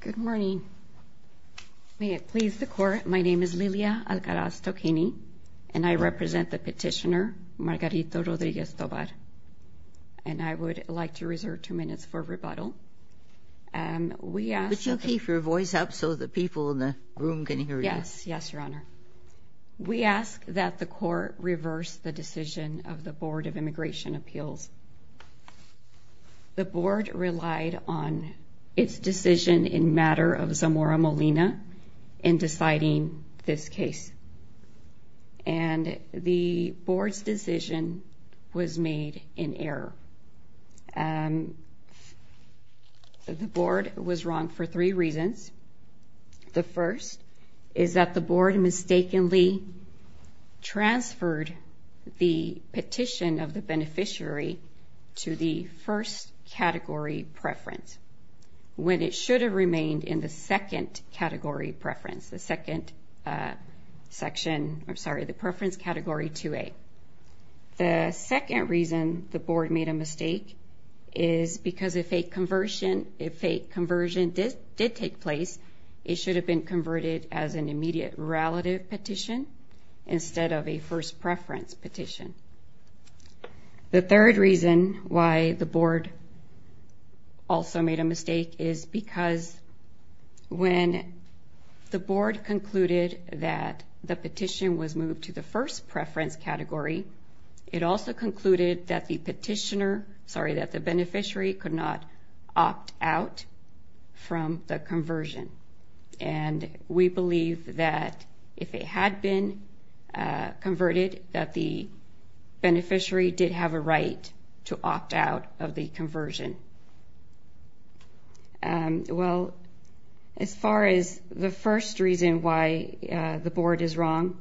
Good morning. May it please the court, my name is Lilia Alcaraz Toquini, and I represent the petitioner, Margarito Rodriguez Tovar. And I would like to reserve two minutes for rebuttal. We ask that the court reverse the decision of the Board of Immigration Appeals. The board relied on its decision in matter of Zamora Molina in deciding this case, and the board's decision was made in error. The board was wrong for three reasons. The first is that the first category preference when it should have remained in the second category preference, the second section, I'm sorry, the preference category 2A. The second reason the board made a mistake is because if a conversion did take place, it should have been converted as an why the board also made a mistake is because when the board concluded that the petition was moved to the first preference category, it also concluded that the petitioner, sorry, that the beneficiary could not opt out from the conversion. And we believe that if it had been converted, that the beneficiary did have a right to opt out of the conversion. Well, as far as the first reason why the board is wrong,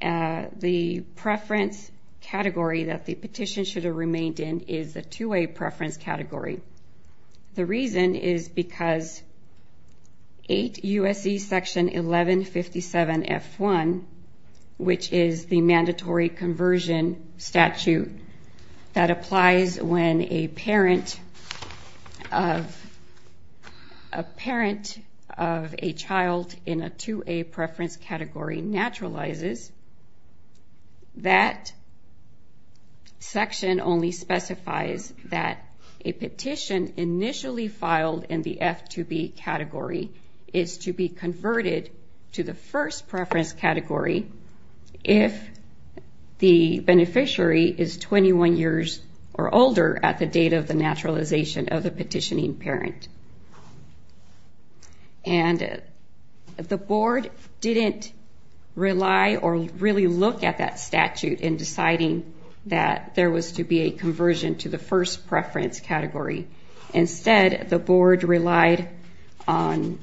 the preference category that the petition should have remained in is the 2A preference category. The reason is because 8 U.S.C. section 1157 F1, which is the mandatory conversion statute that applies when a parent of a child in a 2A preference category naturalizes, that section only specifies that a petition initially filed in the F2B category is to be converted to the first preference category if the beneficiary is 21 years or older at the date of the naturalization of the petitioning parent. And the board didn't rely or really look at that statute in deciding that there was to be a conversion to the first preference category. The board relied on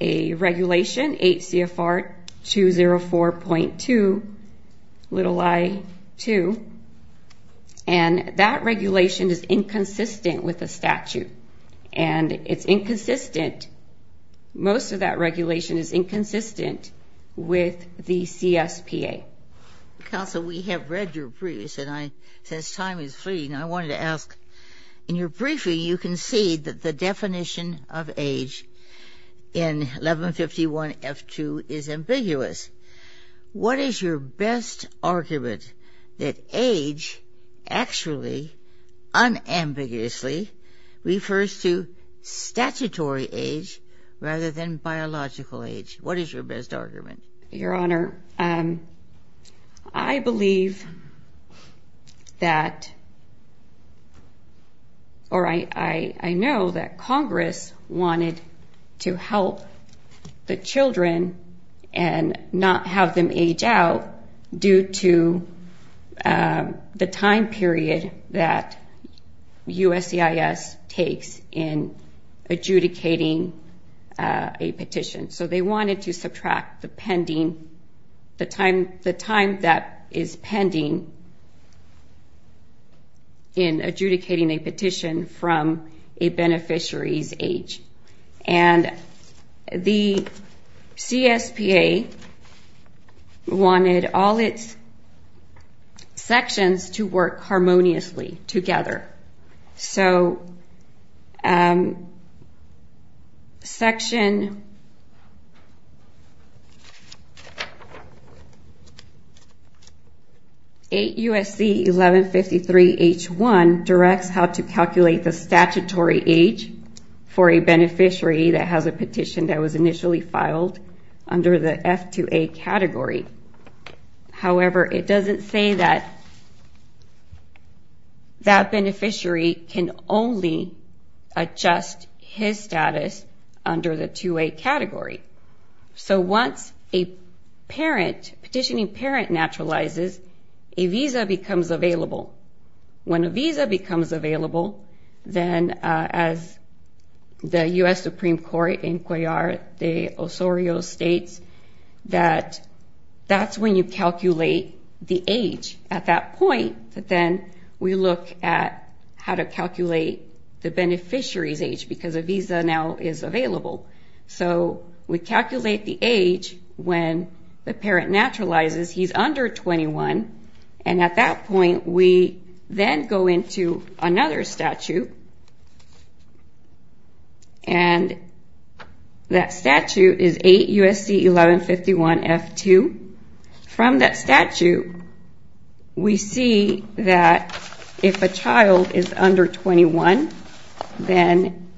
a regulation, 8 C.F.R. 204.2, little I.2, and that regulation is inconsistent with the statute. And it's inconsistent, most of that regulation is inconsistent with the CSPA. Counsel, we have read your briefs and I, since time is fleeting, I wanted to ask, in your brief, the definition of age in 1151 F2 is ambiguous. What is your best argument that age actually, unambiguously, refers to statutory age rather than biological age? What is your best argument? Your Honor, I believe that, or I know that Congress wanted to help the children and not have them age out due to the time the time that is pending in adjudicating a petition from a beneficiary's age. And the CSPA wanted all its sections to work together. 8 U.S.C. 1153 H1 directs how to calculate the statutory age for a beneficiary that has a petition that was initially filed under the F2A category. However, it doesn't say that that beneficiary can only adjust his status under the 2A category. So once a parent, petitioning parent naturalizes, a visa becomes available. When a visa becomes available, then as the U.S. Supreme Court Inquiry, the Osorio states, that that's when you calculate the age. At that point, then we look at how to calculate the age when the parent naturalizes. He's under 21. And at that point, we then go into another statute. And that statute is 8 U.S.C. 1151 F2. From that statute, we see that if a child is under 21, then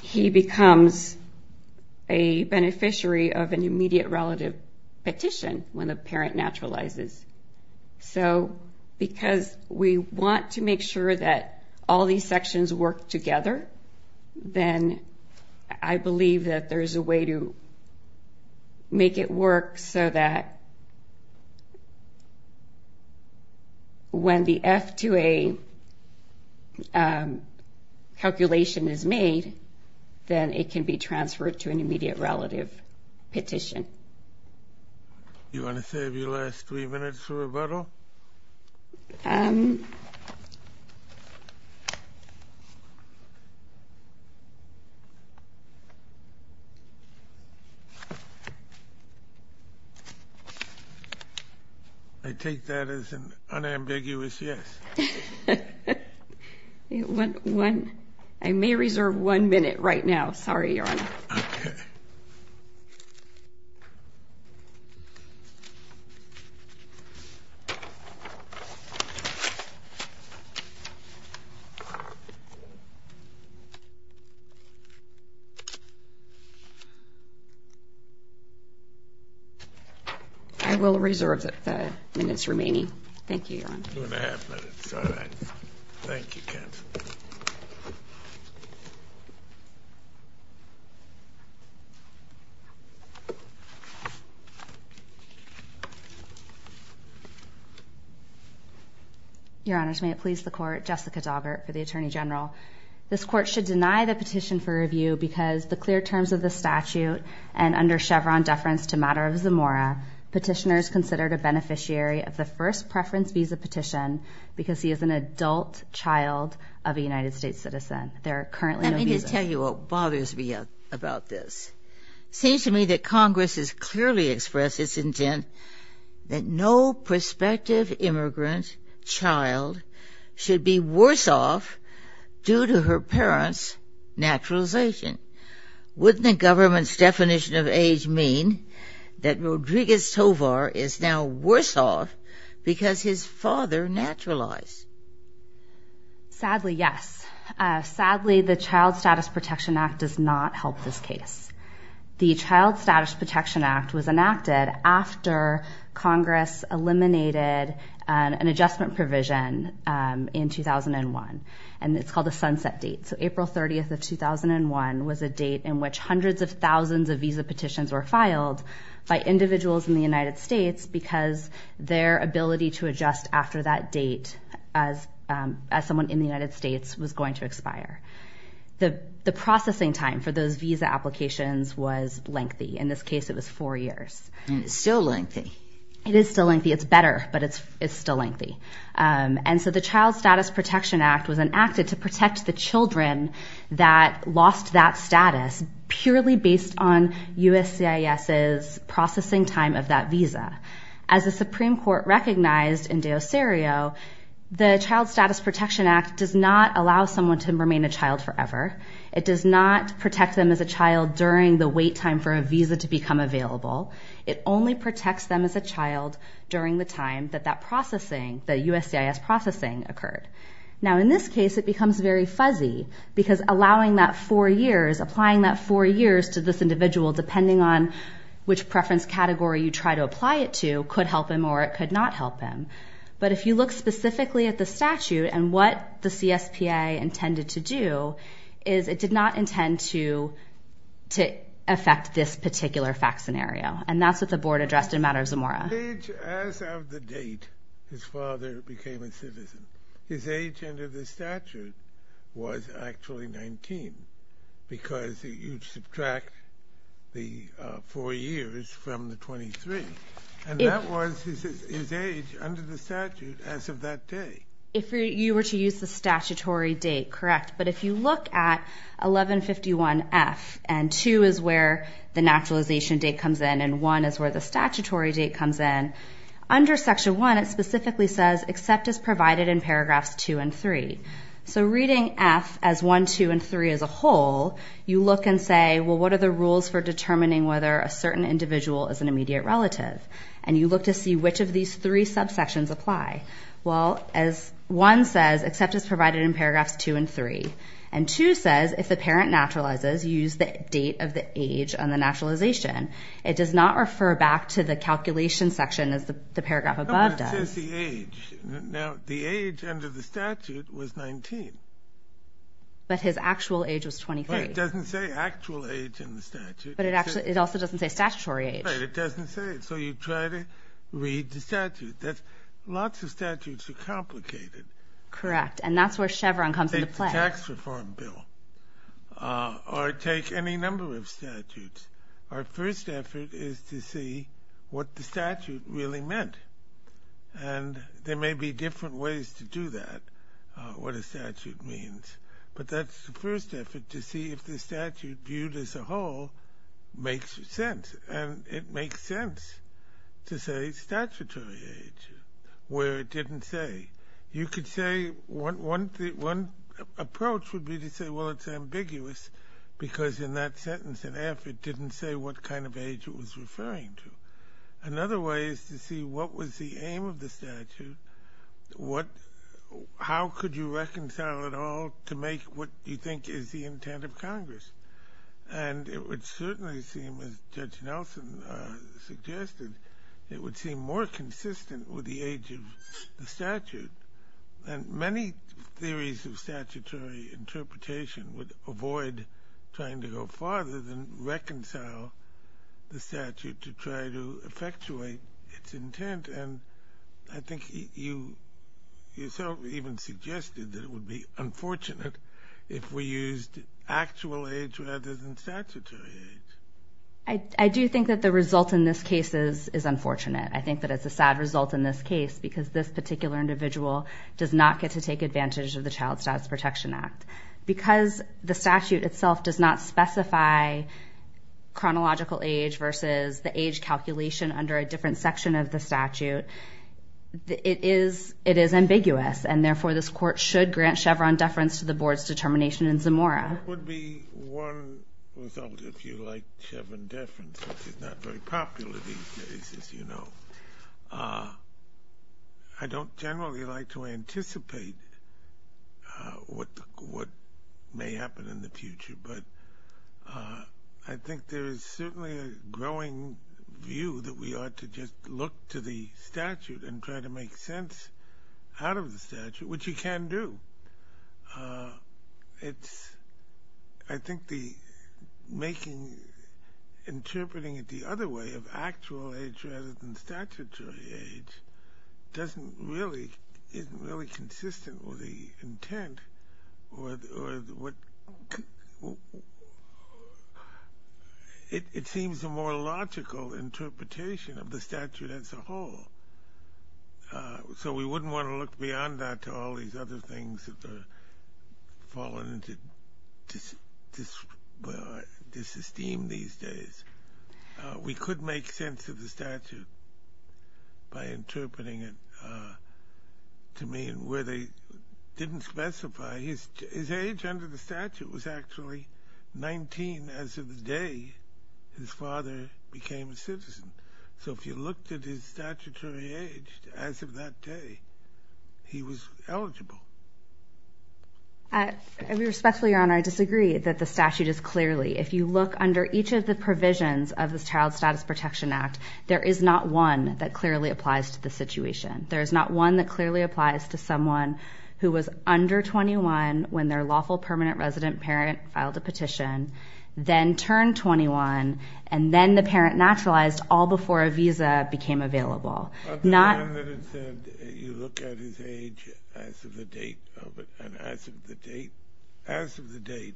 he becomes a beneficiary of an immediate relative petition when the parent works so that when the F2A calculation is made, then it can be transferred to an immediate relative petition. You want to save your last three minutes, Roberto? I take that as an unambiguous yes. I may reserve one minute right now. Sorry, Your Honor. I will reserve the minutes remaining. Thank you, Your Honor. Two and a half minutes. All right. Thank you, counsel. Your Honor, may it please the Court, Jessica Daubert for the Attorney General. This Court should deny the petition for review because the clear petitioner is considered a beneficiary of the first preference visa petition because he is an adult child of a United States citizen. There are currently no visas. Let me just tell you what bothers me about this. It seems to me that Congress has clearly expressed its intent that no prospective immigrant child should be worse off due to her parent's naturalization. Wouldn't the government's definition of age mean that Rodriguez Tovar is now worse off because his father naturalized? Sadly, yes. Sadly, the Child Status Protection Act does not help this case. The Child Status Protection Act was enacted after Congress eliminated an adjustment provision in 2001, and it's called a sunset date. So April 30th of 2001 was a date in which hundreds of thousands of visa petitions were filed by individuals in the United States because their ability to adjust after that date as someone in the United States was going to expire. The processing time for those visa applications was lengthy. In this case, it was four years. And it's still lengthy. It is still lengthy. It's better, but it's still lengthy. And so the Child Status Protection Act was enacted to protect the children that lost that status purely based on USCIS's processing time of that visa. As the Supreme Court recognized in Deocerio, the Child Status Protection Act does not allow someone to remain a child forever. It does not protect them as a child during the wait time for a visa to become available. It only protects them as a child during the time that that processing, the USCIS processing, occurred. Now, in this case, it becomes very fuzzy because allowing that four years, applying that four years to this individual, depending on which preference category you try to apply it to, could help him or it could not help him. But if you look specifically at the statute and what the CSPA intended to do, is it did not intend to affect this particular fact scenario. And that's what the board addressed in Matters of Mora. His age as of the date his father became a citizen, his age under the statute was actually 19 because you subtract the four years from the 23. And that was his age under the statute as of that day. If you were to use the statutory date, correct. But if you look at 1151F and 2 is where the naturalization date comes in and 1 is where the statutory date comes in, under Section 1 it specifically says, except as provided in paragraphs 2 and 3. So reading F as 1, 2, and 3 as a whole, you look and say, well, what are the rules for determining whether a certain individual is an immediate relative? And you look to see which of these three subsections apply. Well, as 1 says, except as provided in paragraphs 2 and 3. And 2 says, if the parent naturalizes, use the date of the age on the naturalization. It does not refer back to the calculation section as the paragraph above does. But it says the age. Now, the age under the statute was 19. But his actual age was 23. But it doesn't say actual age in the statute. But it also doesn't say statutory age. Right, it doesn't say it. So you try to read the statute. Lots of statutes are complicated. Correct. And that's where Chevron comes into play. Take the tax reform bill or take any number of statutes. Our first effort is to see what the statute really meant. And there may be different ways to do that, what a statute means. But that's the first effort, to see if the statute viewed as a whole makes sense. And it makes sense to say statutory age, where it didn't say. You could say, one approach would be to say, well, it's ambiguous. Because in that sentence in F, it didn't say what kind of age it was referring to. Another way is to see what was the aim of the statute. How could you reconcile it all to make what you think is the intent of Congress? And it would certainly seem, as Judge Nelson suggested, it would seem more consistent with the age of the statute. And many theories of statutory interpretation would avoid trying to go farther than reconcile the statute to try to effectuate its intent. And I think you yourself even suggested that it would be unfortunate if we used actual age rather than statutory age. I do think that the result in this case is unfortunate. I think that it's a sad result in this case because this particular individual does not get to take advantage of the Child Status Protection Act. Because the statute itself does not specify chronological age versus the age calculation under a different section of the statute, it is ambiguous. And therefore, this Court should grant Chevron deference to the Board's determination in Zamora. That would be one result if you like Chevron deference, which is not very popular these days, as you know. I don't generally like to anticipate what may happen in the future, but I think there is certainly a growing view that we ought to just look to the statute and try to make sense out of the statute, which you can do. I think interpreting it the other way, of actual age rather than statutory age, doesn't really, isn't really consistent with the intent. It seems a more logical interpretation of the statute as a whole. So we wouldn't want to look beyond that to all these other things that are falling into dis-esteem these days. We could make sense of the statute by interpreting it to mean where they didn't specify. His age under the statute was actually 19 as of the day his father became a citizen. So if you looked at his statutory age as of that day, he was eligible. I respectfully, Your Honor, I disagree that the statute is clearly, if you look under each of the provisions of the Child Status Protection Act, there is not one that clearly applies to the situation. There is not one that clearly applies to someone who was under 21 when their lawful permanent resident parent filed a petition, then turned 21, and then the parent naturalized all before a visa became available. Not the one that said you look at his age as of the date of it, and as of the date, as of the date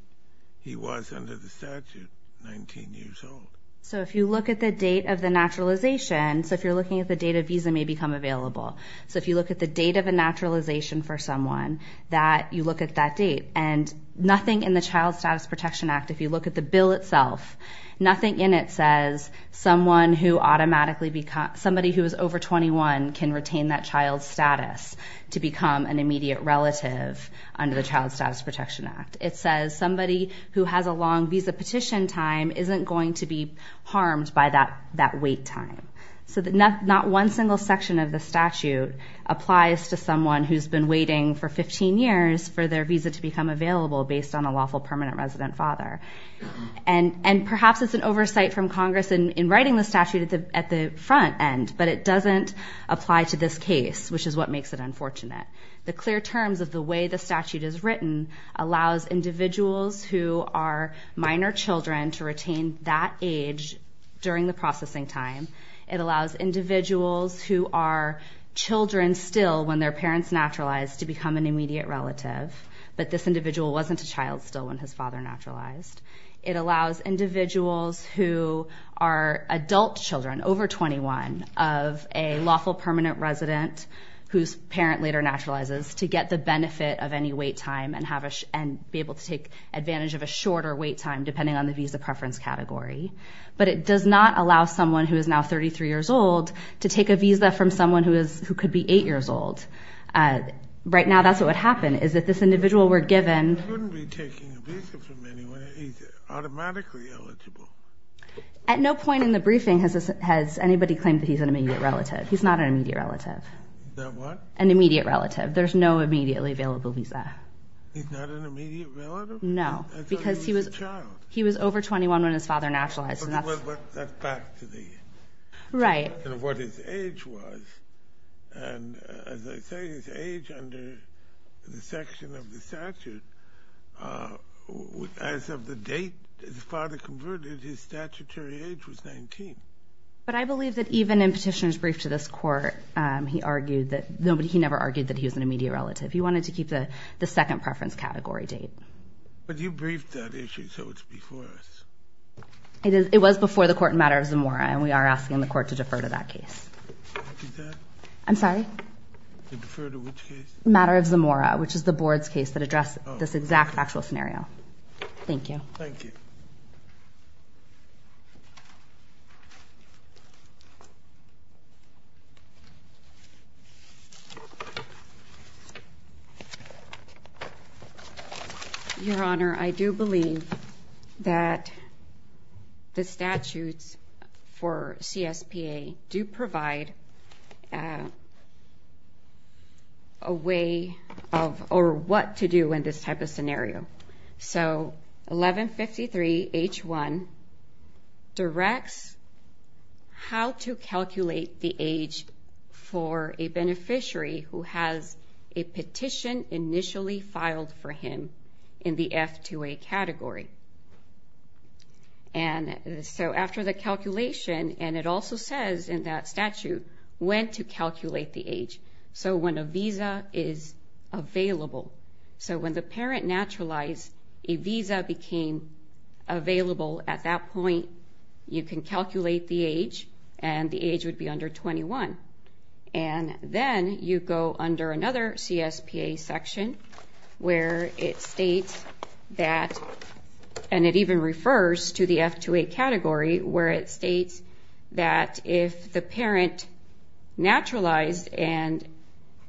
he was under the statute, 19 years old. So if you look at the date of the naturalization, so if you're looking at the date a visa may become available, so if you look at the date of a naturalization for someone, that you look at that date. And nothing in the Child Status Protection Act, if you look at the bill itself, nothing in it says someone who automatically, somebody who is over 21 can retain that child's status to become an immediate relative under the Child Status Protection Act. It says somebody who has a long visa petition time isn't going to be harmed by that wait time. So not one single section of the statute applies to someone who's been waiting for 15 years for their visa to become available based on a lawful permanent resident father. And perhaps it's an oversight from Congress in writing the statute at the front end, but it doesn't apply to this case, which is what makes it unfortunate. The clear terms of the way the statute is written allows individuals who are minor children to retain that age during the processing time. It allows individuals who are children still when their parents naturalized to become an immediate relative, but this individual wasn't a child still when his father naturalized. It allows individuals who are adult children, over 21, of a lawful permanent resident, whose parent later naturalizes, to get the benefit of any wait time and be able to take advantage of a shorter wait time, depending on the visa preference category. But it does not allow someone who is now 33 years old to take a visa from someone who could be eight years old. Right now, that's what would happen, is that this individual were given. He wouldn't be taking a visa from anyone. He's automatically eligible. At no point in the briefing has anybody claimed that he's an immediate relative. He's not an immediate relative. An immediate relative. There's no immediately available visa. He's not an immediate relative? No. Because he was over 21 when his father naturalized. That's back to the, to what his age was, and as I say, his age under the section of the statute, as of the date his father converted, his statutory age was 19. But I believe that even in Petitioner's Brief to this Court, he argued that nobody, he never argued that he was an immediate relative. He wanted to keep the second preference category date. But you briefed that issue, so it's before us. It is, it was before the Court in Matter of Zamora, and we are asking the Court to defer to that case. What is that? I'm sorry? To defer to which case? Matter of Zamora, which is the Board's case that address this exact actual scenario. Thank you. Thank you. Your Honor, I do believe that the statutes for CSPA do provide a way of, or what to do in this type of scenario. So 1153 H1 directs how to calculate the age for a beneficiary who has a petition initially filed for him in the F2A category. And so after the calculation, and it also says in that statute when to calculate the age. So when a visa is available. So when the parent naturalized, a visa became available. At that point, you can calculate the age, and the age would be under 21. And then you go under another CSPA section where it states that, and it even refers to the F2A category, where it states that if the parent naturalized and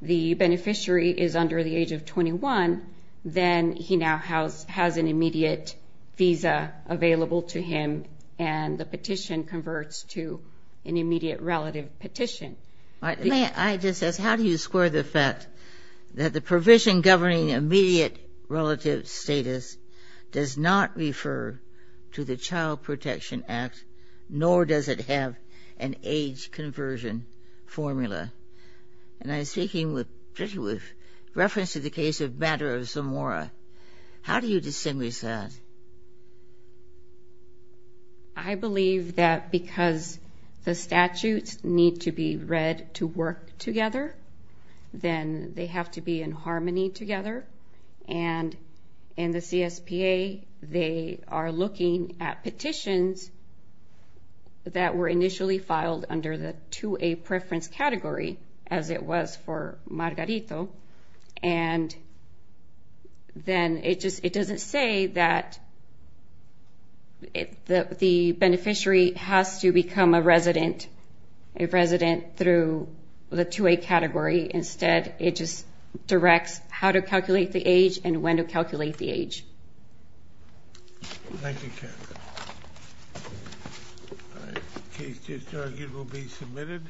the beneficiary is under the age of 21, then he now has an immediate visa available to him, and the petition converts to an immediate relative petition. May I just ask, how do you square the fact that the provision governing immediate relative status does not refer to the Child Protection Act, nor does it have an age conversion formula? And I'm speaking with reference to the case of Bader of Zamora. How do you distinguish that? I believe that because the statutes need to be read to work together, then they have to be in harmony together. And in the CSPA, they are looking at petitions that were initially filed under the 2A preference category, as it was for Margarito. And then it just, it doesn't say that the beneficiary has to become a resident, a resident through the 2A category. Instead, it just directs how to calculate the age, and when to calculate the age. Thank you, Karen. All right, the case to be argued will be submitted.